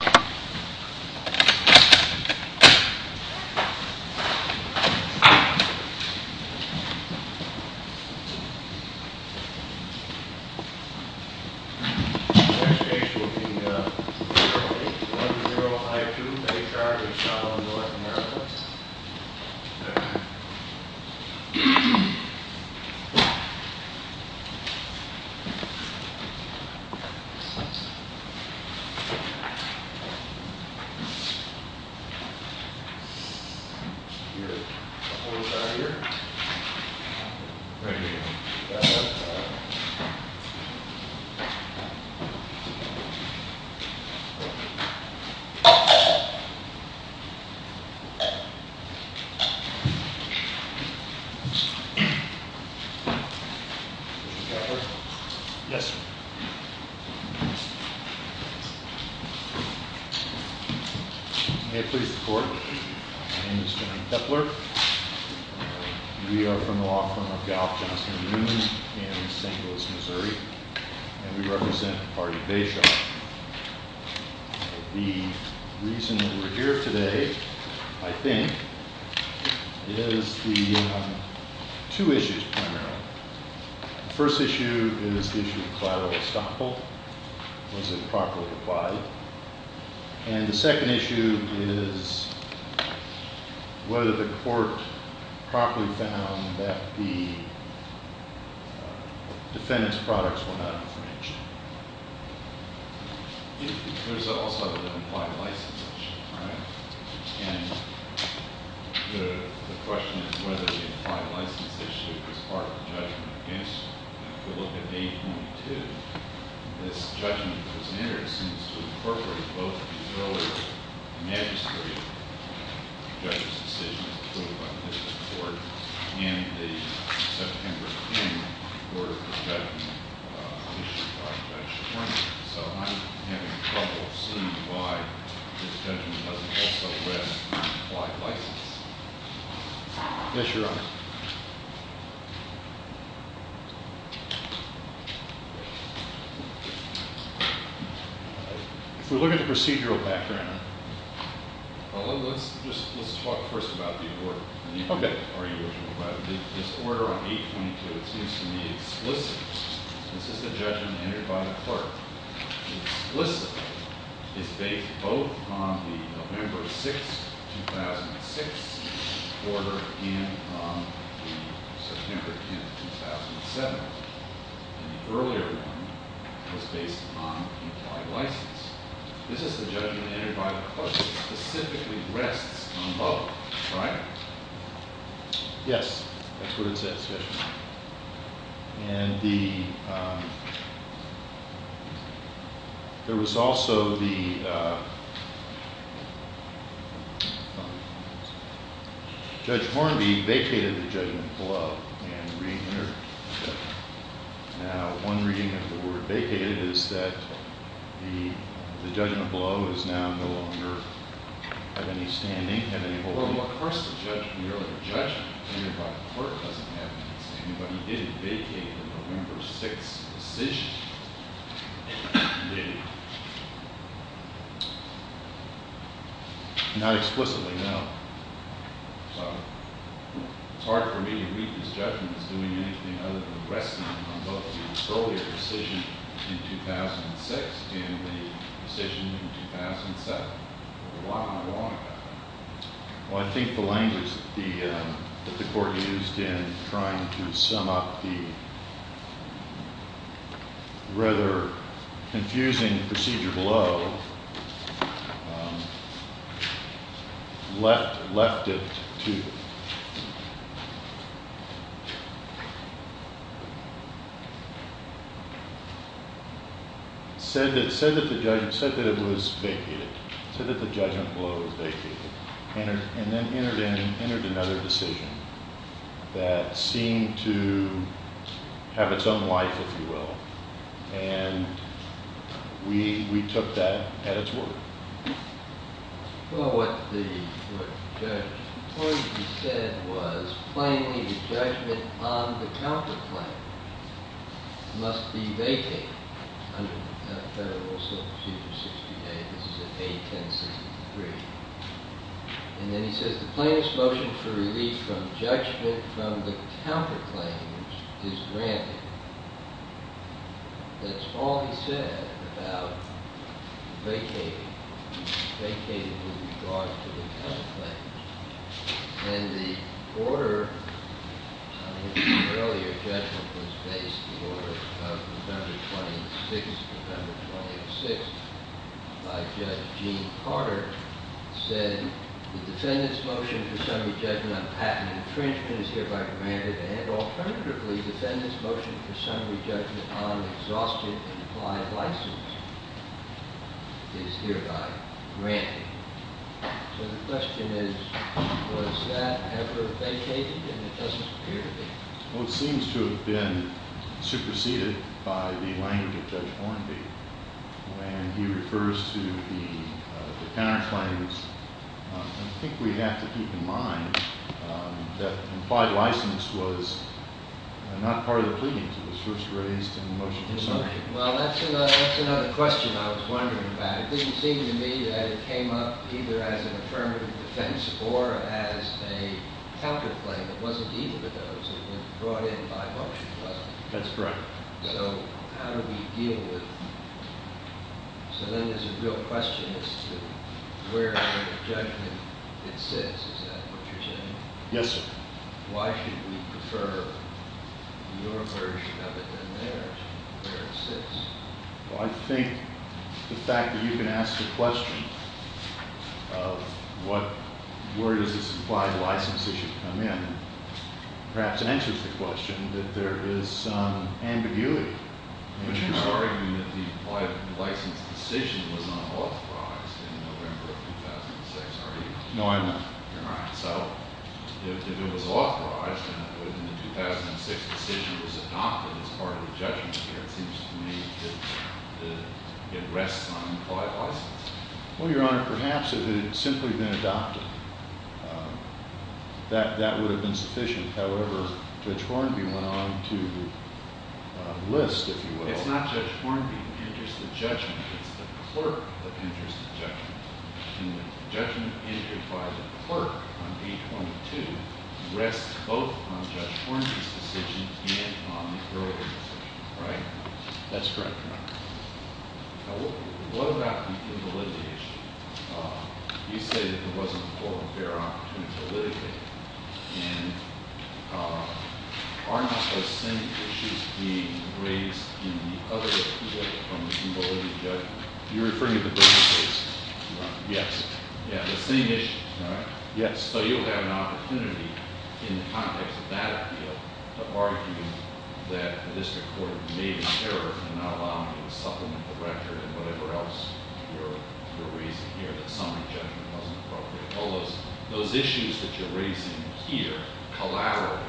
The next station will be 0810I2 H.R. v. Salomon North America. The next station will be 0810I2 H.R. v. Salomon North America. May it please the court, my name is John Kepler. We are from the law firm of Gough, Johnson & Newman in St. Louis, Missouri. And we represent the party of Bayshore. The reason that we're here today, I think, is the two issues primarily. The first issue is the issue of collateral estoppel. Was it properly applied? And the second issue is whether the court properly found that the defendant's products were not infringed. There's also the implied license issue, right? And the question is whether the implied license issue is part of the judgment. If you look at 8.2, this judgment was entered, it seems, to incorporate both the earlier magistrate judge's decision, approved by the district court, and the September 10 order for judgment issued by Judge Sherman. So I'm having trouble seeing why this judgment doesn't also rest on the implied license. Yes, Your Honor. If we look at the procedural background, let's talk first about the order. Okay. This order on 8.2, it seems to me, is explicit. This is the judgment entered by the court. It's explicit. It's based both on the November 6, 2006 order and on the September 10, 2007. And the earlier one was based on implied license. This is the judgment entered by the court. It specifically rests on both, right? Yes. That's what it said, especially. And there was also the Judge Hornby vacated the judgment below and re-entered the judgment. Now, one reading of the word vacated is that the judgment below is now no longer of any standing, and of course, the judgment entered by the court doesn't have any standing, but he didn't vacate the November 6 decision. He didn't. Not explicitly, no. So it's hard for me to read this judgment as doing anything other than resting on both the earlier decision in 2006 and the decision in 2007. Why? Well, I think the language that the court used in trying to sum up the rather confusing procedure below left it to... It said that it was vacated. It said that the judgment below was vacated. And then entered another decision that seemed to have its own life, if you will. And we took that at its word. Well, what Judge Hornby said was plainly the judgment on the counterclaim must be vacated under Federal Procedure 68. This is in 81063. And then he says the plaintiff's motion for relief from judgment from the counterclaims is granted. That's all he said about vacating. He vacated with regard to the counterclaims. And the order in the earlier judgment was based on the order of November 26. November 26 by Judge Gene Carter said the defendant's motion for summary judgment on patent infringement is hereby granted, and alternatively, the defendant's motion for summary judgment on exhaustion of implied license is hereby granted. So the question is, was that ever vacated? And it doesn't appear to be. Well, it seems to have been superseded by the language of Judge Hornby when he refers to the counterclaims. I think we have to keep in mind that implied license was not part of the pleadings. It was first raised in the motion for summary. Well, that's another question I was wondering about. It didn't seem to me that it came up either as an affirmative defense or as a counterclaim. It wasn't either of those. It was brought in by motion, wasn't it? That's correct. So how do we deal with it? So then there's a real question as to where in the judgment it sits. Is that what you're saying? Yes, sir. Why should we prefer your version of it than theirs, where it sits? Well, I think the fact that you can ask the question of where does this implied license issue come in, perhaps answers the question that there is some ambiguity. But you're arguing that the implied license decision was not authorized in November of 2006, are you? No, I'm not. All right. So if it was authorized and the 2006 decision was adopted as part of the judgment, it seems to me that it rests on implied license. Well, Your Honor, perhaps if it had simply been adopted, that would have been sufficient. However, Judge Hornby went on to list, if you will. It's not Judge Hornby that enters the judgment. It's the clerk that enters the judgment. And the judgment entered by the clerk on page 22 rests both on Judge Hornby's decision and on the earlier decision. Right? That's correct, Your Honor. Now, what about the validity issue? You say that there wasn't a formal fair opportunity to litigate. And aren't those same issues being raised in the other appeal from the validity judgment? You're referring to the briefcase, Your Honor? Yes. Yeah, the same issue. All right. Yes. So you have an opportunity in the context of that appeal to argue that the district court made an error in not allowing you to supplement the record and whatever else you're raising here, that summary judgment wasn't appropriate. All those issues that you're raising here, collaterally,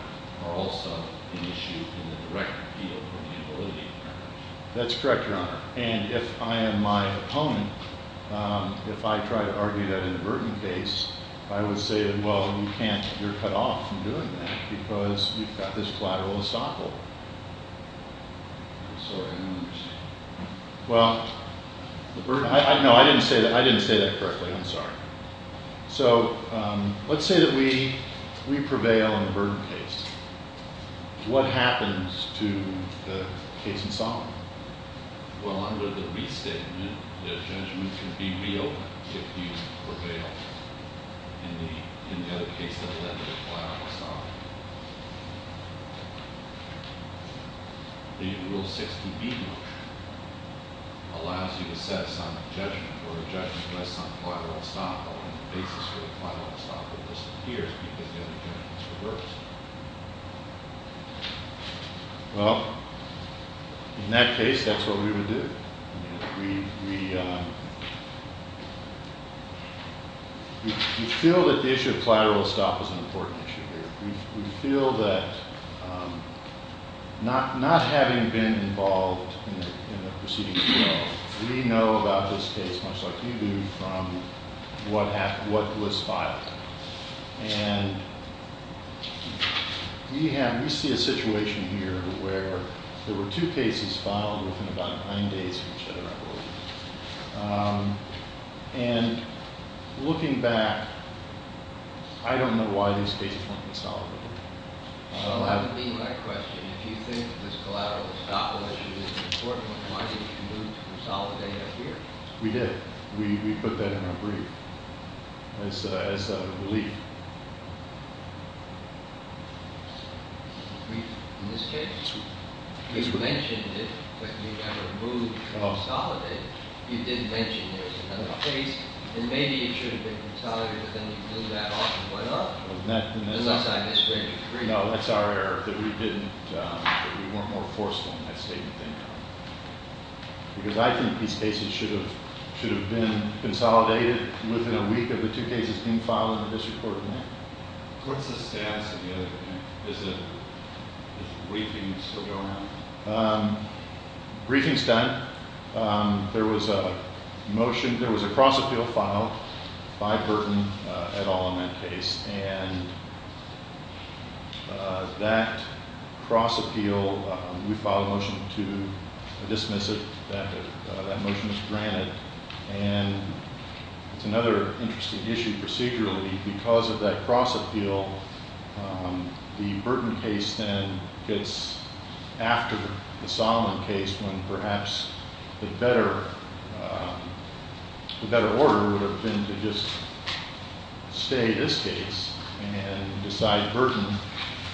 are also an issue in the direct appeal from the validity judgment. That's correct, Your Honor. And if I am my opponent, if I try to argue that in the Burton case, I would say that, well, you can't. You're cut off from doing that because you've got this collateral to stop over. I'm sorry. I don't understand. Well, no, I didn't say that correctly. I'm sorry. So let's say that we prevail in the Burton case. What happens to the case in Solomon? Well, under the restatement, the judgment can be reopened if you prevail in the case that led to the collateral stopover. The Rule 60B motion allows you to set some judgment or a judgment based on collateral stopover. The basis for the collateral stopover disappears because the other judgment is reversed. Well, in that case, that's what we would do. We feel that the issue of collateral stop is an important issue here. We feel that not having been involved in the proceedings, we know about this case, much like you do, from what was filed. And we see a situation here where there were two cases filed within about nine days of each other. And looking back, I don't know why these cases weren't consolidated. Well, that would be my question. If you think this collateral stopover issue is important, why didn't you move to consolidate it here? We did. We put that in our brief. It's a relief. Brief? In this case? You mentioned it, but you never moved to consolidate it. You didn't mention there was another case. And maybe it should have been consolidated, but then you blew that off and went up. Unless I misread your brief. No, that's our error, that we weren't more forceful in that statement than you are. Because I think these cases should have been consolidated within a week of the two cases being filed in the district court. What's the status of the other thing? Is the briefings still going on? Briefing's done. There was a motion. There was a cross-appeal filed by Burton et al. in that case. And that cross-appeal, we filed a motion to dismiss it. That motion was granted. And it's another interesting issue procedurally. Because of that cross-appeal, the Burton case then gets after the Solomon case, when perhaps the better order would have been to just stay this case and decide Burton,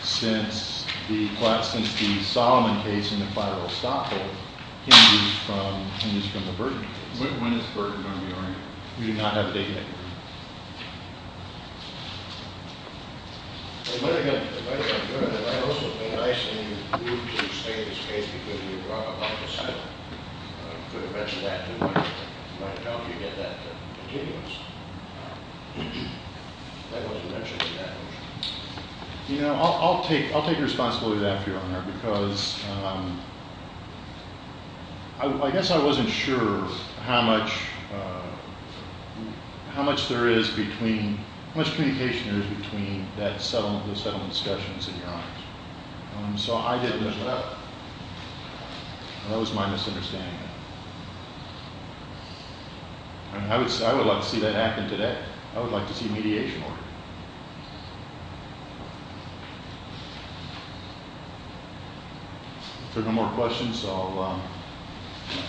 since the Solomon case in the firal stoppage hinges from the Burton case. When is Burton going to be oriented? We do not have a date yet. I guess I wasn't sure how much, how much time you were going to take to answer that question. How much there is between, how much communication there is between that settlement and the settlement discussions in your eyes. So I didn't know that. That was my misunderstanding. I would like to see that happen today. I would like to see mediation work. If there are no more questions, I'll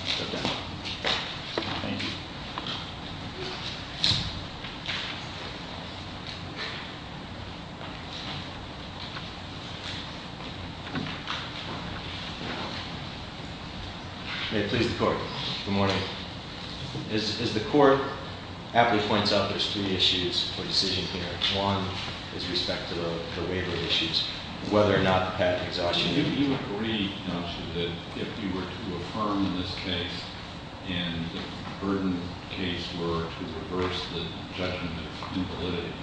step down. Thank you. May it please the court. Good morning. As the court aptly points out, there's three issues for decision here. One is respect to the waiver issues, whether or not the patent exhaustion. You agreed, don't you, that if you were to affirm this case and the Burton case were to reverse the judgment of invalidity,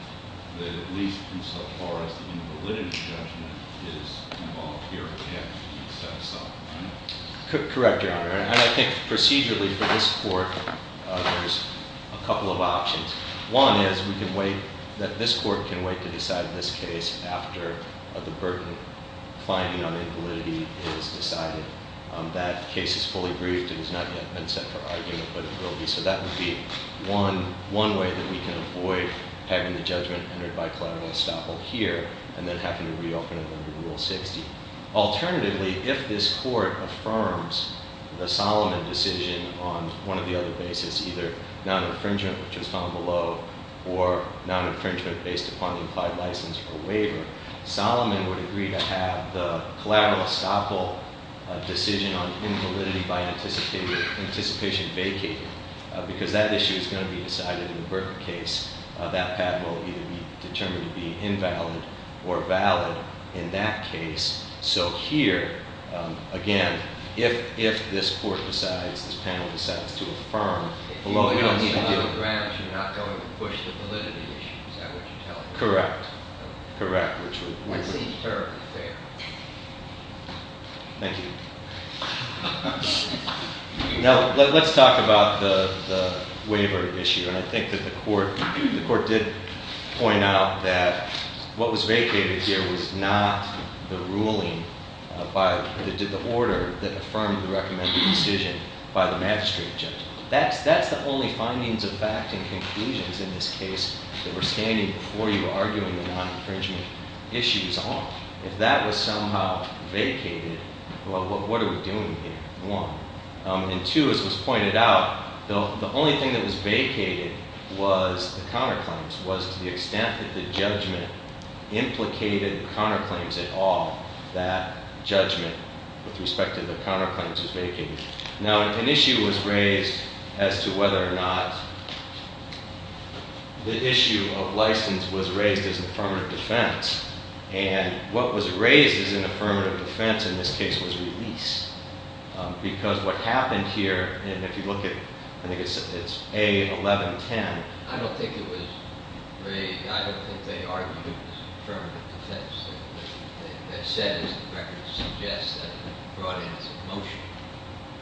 that at least insofar as the invalidity judgment is involved here, it can't be set aside. Correct, Your Honor. And I think procedurally for this court, there's a couple of options. One is we can wait, that this court can wait to decide this case after the Burton finding on invalidity is decided. That case is fully briefed and has not yet been set for argument, but it will be. So that would be one way that we can avoid having the judgment entered by Clarence Staple here and then having to reopen it under Rule 60. Alternatively, if this court affirms the Solomon decision on one of the other bases, either non-infringement, which was found below, or non-infringement based upon the implied license or waiver, Solomon would agree to have the Clarence Staple decision on invalidity by anticipation vacating, because that issue is going to be decided in the Burton case. That patent will either be determined to be invalid or valid in that case. So here, again, if this court decides, this panel decides to affirm- If you don't give a grant, you're not going to push the validity issue, is that what you're telling me? Correct, correct. That seems terribly fair. Thank you. Now, let's talk about the waiver issue. And I think that the court did point out that what was vacated here was not the ruling, the order that affirmed the recommended decision by the magistrate judge. That's the only findings of fact and conclusions in this case that were standing before you arguing the non-infringement issue as a whole. If that was somehow vacated, well, what are we doing here? One. And two, as was pointed out, the only thing that was vacated was the counterclaims, was to the extent that the judgment implicated the counterclaims at all, that judgment with respect to the counterclaims was vacated. Now, an issue was raised as to whether or not the issue of license was raised as affirmative defense. And what was raised as an affirmative defense in this case was released. Because what happened here, and if you look at, I think it's A1110. I don't think it was raised. I don't think they argued it was affirmative defense. They said, as the record suggests, that it brought in some motion.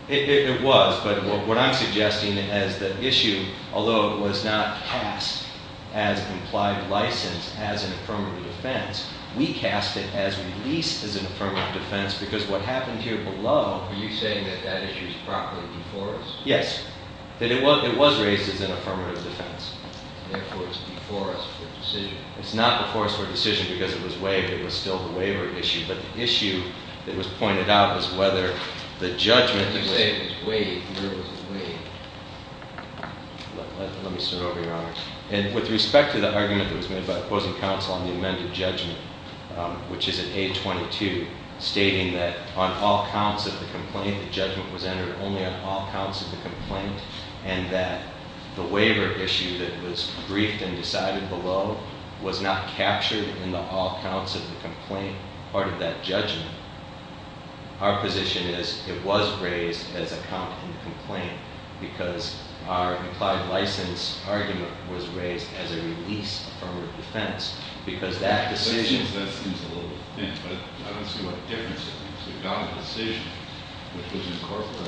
It was. But what I'm suggesting is the issue, although it was not cast as implied license as an affirmative defense, we cast it as released as an affirmative defense because what happened here below- Are you saying that that issue is properly before us? Yes. That it was raised as an affirmative defense. Therefore, it's before us for a decision. It's not before us for a decision because it was waived. It was still the waiver issue. But the issue that was pointed out was whether the judgment- It was waived. It was waived. Let me start over, Your Honor. And with respect to the argument that was made by opposing counsel on the amended judgment, which is in A22, stating that on all counts of the complaint, the judgment was entered only on all counts of the complaint, and that the waiver issue that was briefed and decided below was not captured in the all counts of the complaint part of that judgment, our position is it was raised as a count in the complaint because our implied license argument was raised as a release affirmative defense because that decision- That seems a little thin, but I don't see what difference it makes. We've got a decision, which was incorporated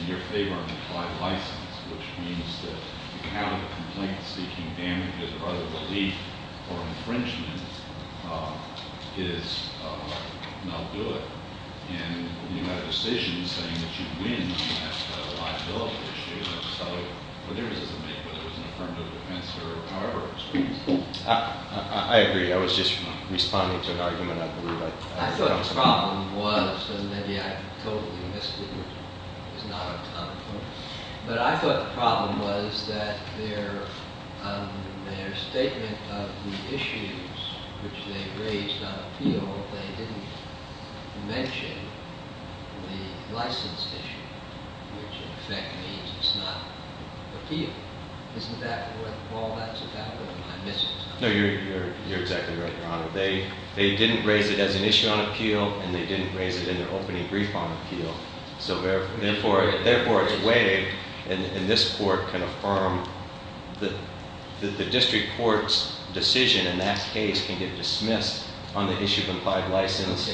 in your favor on implied license, which means that the count of complaints seeking damages of either relief or infringement is not good. And you have a decision saying that you win on that liability issue, and I just thought, what difference does it make whether it was an affirmative defense or however it was raised? I agree. I was just responding to an argument I believe I- I thought the problem was, and maybe I totally missed it, but I thought the problem was that their statement of the issues which they raised on appeal, they didn't mention the license issue, which in effect means it's not appeal. Isn't that what all that's about, or am I missing something? No, you're exactly right, Your Honor. They didn't raise it as an issue on appeal, and they didn't raise it in their opening brief on appeal, so therefore it's a way, and this court can affirm, that the district court's decision in that case can get dismissed on the issue of implied license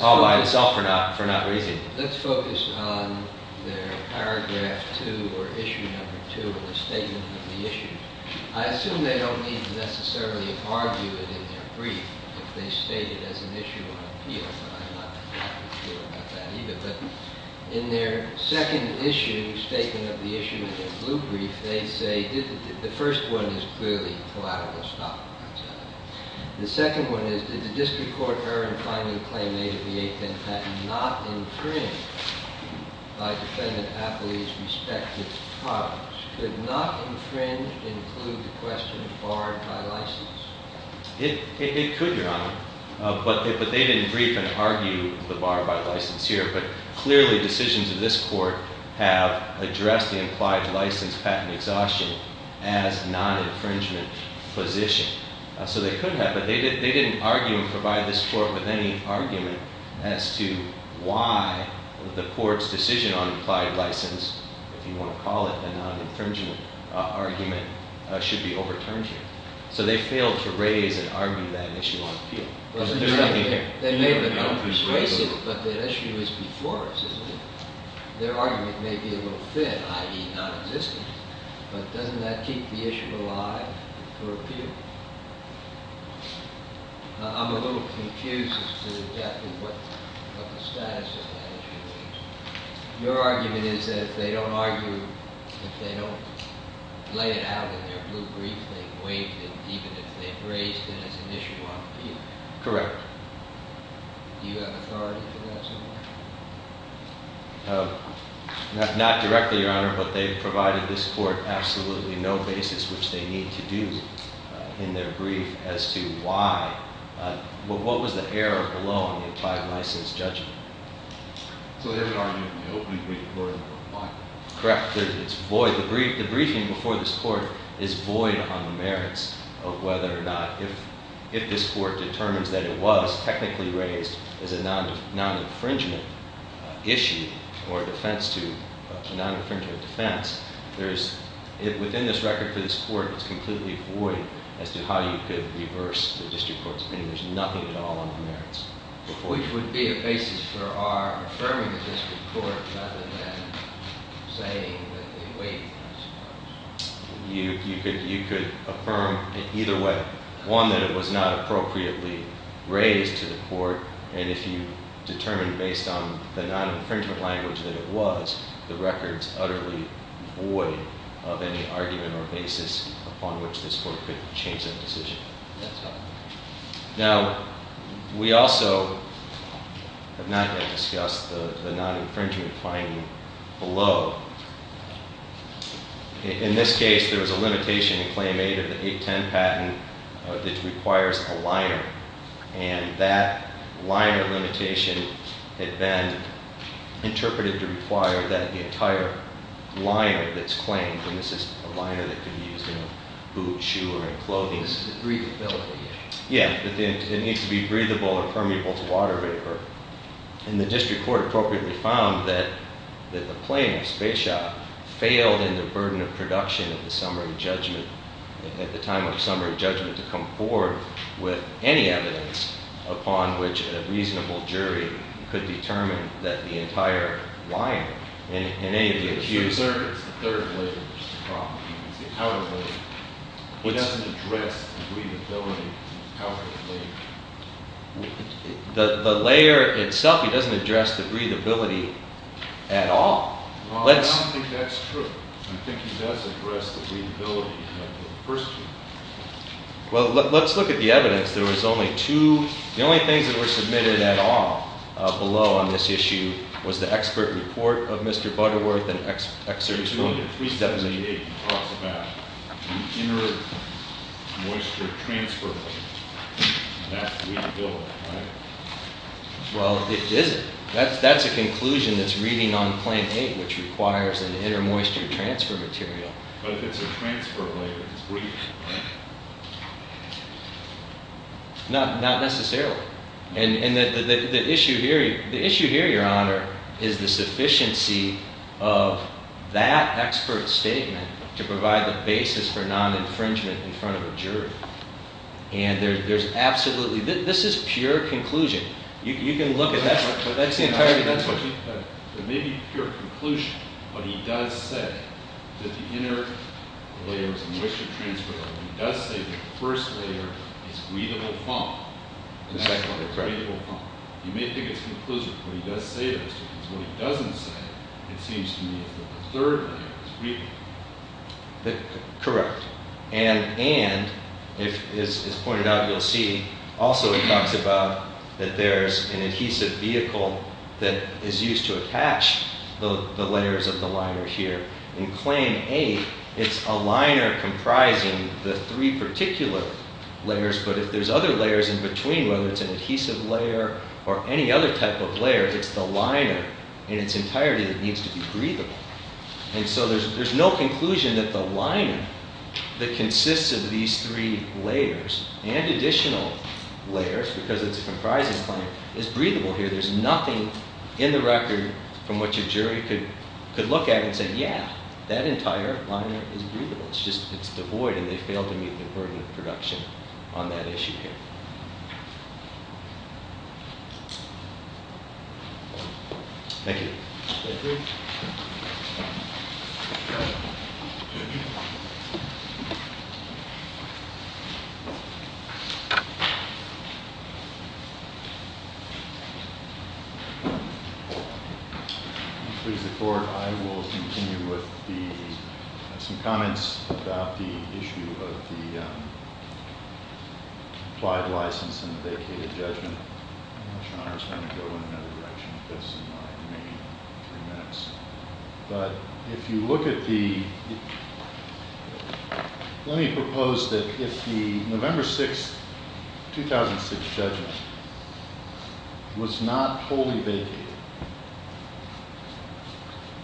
all by itself for not raising it. Let's focus on their paragraph two, or issue number two, or the statement of the issue. I assume they don't need to necessarily argue it in their brief if they state it as an issue on appeal, but I'm not entirely sure about that either. But in their second issue, statement of the issue in their blue brief, they say, the first one is clearly collateral, the second one is, did the district court err in finding the claim made at the eighth in patent not infringed by defendant-appellee's respective parties? Could not infringed include the question barred by license? It could, Your Honor. But they didn't brief and argue the bar by license here, but clearly decisions of this court have addressed the implied license patent exhaustion as non-infringement position. So they could have, but they didn't argue and provide this court with any argument as to why the court's decision on implied license, if you want to call it a non-infringement argument, should be overturned here. So they failed to raise and argue that issue on appeal. They may have been unperceived. But the issue is before us, isn't it? Their argument may be a little thin, i.e., non-existent, but doesn't that keep the issue alive for appeal? I'm a little confused as to the depth of what the status of that issue is. Your argument is that if they don't argue, if they don't lay it out in their brief, they waive it even if they've raised it as an issue on appeal. Correct. Do you have authority to do that so far? Not directly, Your Honor, but they've provided this court absolutely no basis which they need to do in their brief as to why. What was the error below in the implied license judgment? So they haven't argued the open brief or the bar. Correct. It's void. The briefing before this court is void on the merits of whether or not if this court determines that it was technically raised as a non-infringement issue or a defense to a non-infringement defense, within this record for this court, it's completely void as to how you could reverse the district court's opinion. There's nothing at all on the merits. It would be a basis for our affirming of this report rather than saying that they waived it. You could affirm in either way. One, that it was not appropriately raised to the court, and if you determine based on the non-infringement language that it was, the record's utterly void of any argument or basis upon which this court could change that decision. That's right. Now, we also have not yet discussed the non-infringement finding below. In this case, there was a limitation in Claim 8 of the 810 patent that requires a liner, and that liner limitation had been interpreted to require that the entire liner that's claimed, and this is a liner that could be used in a boot, shoe, or in clothing, The breathability. Yeah. It needs to be breathable or permeable to water vapor, and the district court appropriately found that the claim of Spaceshop failed in the burden of production of the summary judgment at the time of summary judgment to come forward with any evidence upon which a reasonable jury could determine that the entire liner and any of the accused It's the third layer of the problem. It's the powder layer. It doesn't address the breathability of the powder layer. The layer itself, it doesn't address the breathability at all. Well, I don't think that's true. I think it does address the breathability of the first layer. Well, let's look at the evidence. There was only two. The only things that were submitted at all below on this issue was the expert report of Mr. Butterworth It's only at 378 that it talks about the inner moisture transfer layer. That's the way to go, right? Well, it isn't. That's a conclusion that's reading on claim 8, which requires an inner moisture transfer material. But if it's a transfer layer, it's breathing, right? Not necessarily. And the issue here, Your Honor, is the sufficiency of that expert statement to provide the basis for non-infringement in front of a jury. And there's absolutely... This is pure conclusion. You can look at that. It may be pure conclusion, but he does say that the inner layer is a moisture transfer layer. He does say the first layer is breathable foam. The second layer is breathable foam. You may think it's conclusion, but he does say those things. What he doesn't say, it seems to me, is that the third layer is breathable. Correct. And, as pointed out, you'll see, also he talks about that there's an adhesive vehicle that is used to attach the layers of the liner here. In claim 8, it's a liner comprising the three particular layers, but if there's other layers in between, whether it's an adhesive layer or any other type of layer, it's the liner in its entirety that needs to be breathable. And so there's no conclusion that the liner that consists of these three layers and additional layers, because it's a comprising liner, is breathable here. There's nothing in the record from which a jury could look at and say, yeah, that entire liner is breathable. It's just it's devoid, and they fail to meet the burden of production on that issue here. Thank you. Thank you. If you please, the Court, I will continue with some comments about the issue of the applied license and the vacated judgment. I know Sean is going to go in another direction with this in the remaining three minutes, but if you look at the let me propose that if the November 6, 2006, judgment was not totally vacated,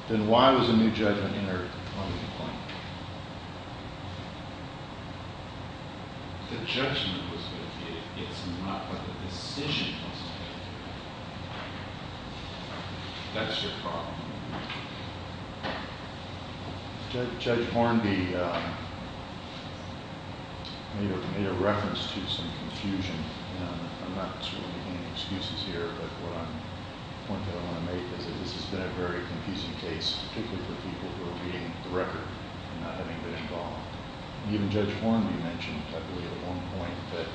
then why was a new judgment entered on the complaint? The judgment was vacated. It's not what the decision was going to do. That's your problem. Judge Hornby made a reference to some confusion, and I'm not making any excuses here, but the point that I want to make is that this has been a very confusing case, particularly for people who are reading the record and not having been involved. Even Judge Hornby mentioned, I believe at one point, that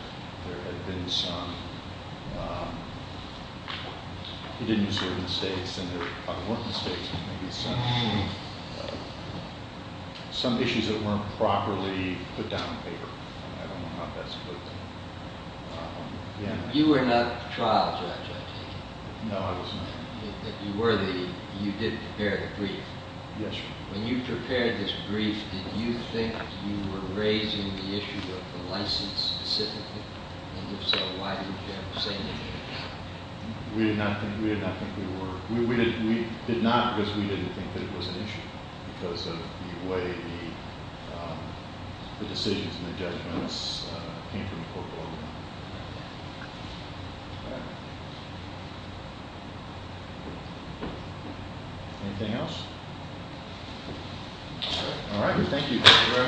there had been some, he didn't use the word mistakes, and there probably weren't mistakes, but maybe some issues that weren't properly put down on paper. I don't know how best to put that. You were not the trial judge, I take it? No, I was not. If you were the, you did prepare the brief. Yes, sir. When you prepared this brief, did you think you were raising the issue of the license specifically? And if so, why didn't you have the same issue? We did not think we were. We did not because we didn't think that it was an issue because of the way the decisions and the judgments came from court. Anything else? All right. Thank you. Thank you very much. Thank you. All rise.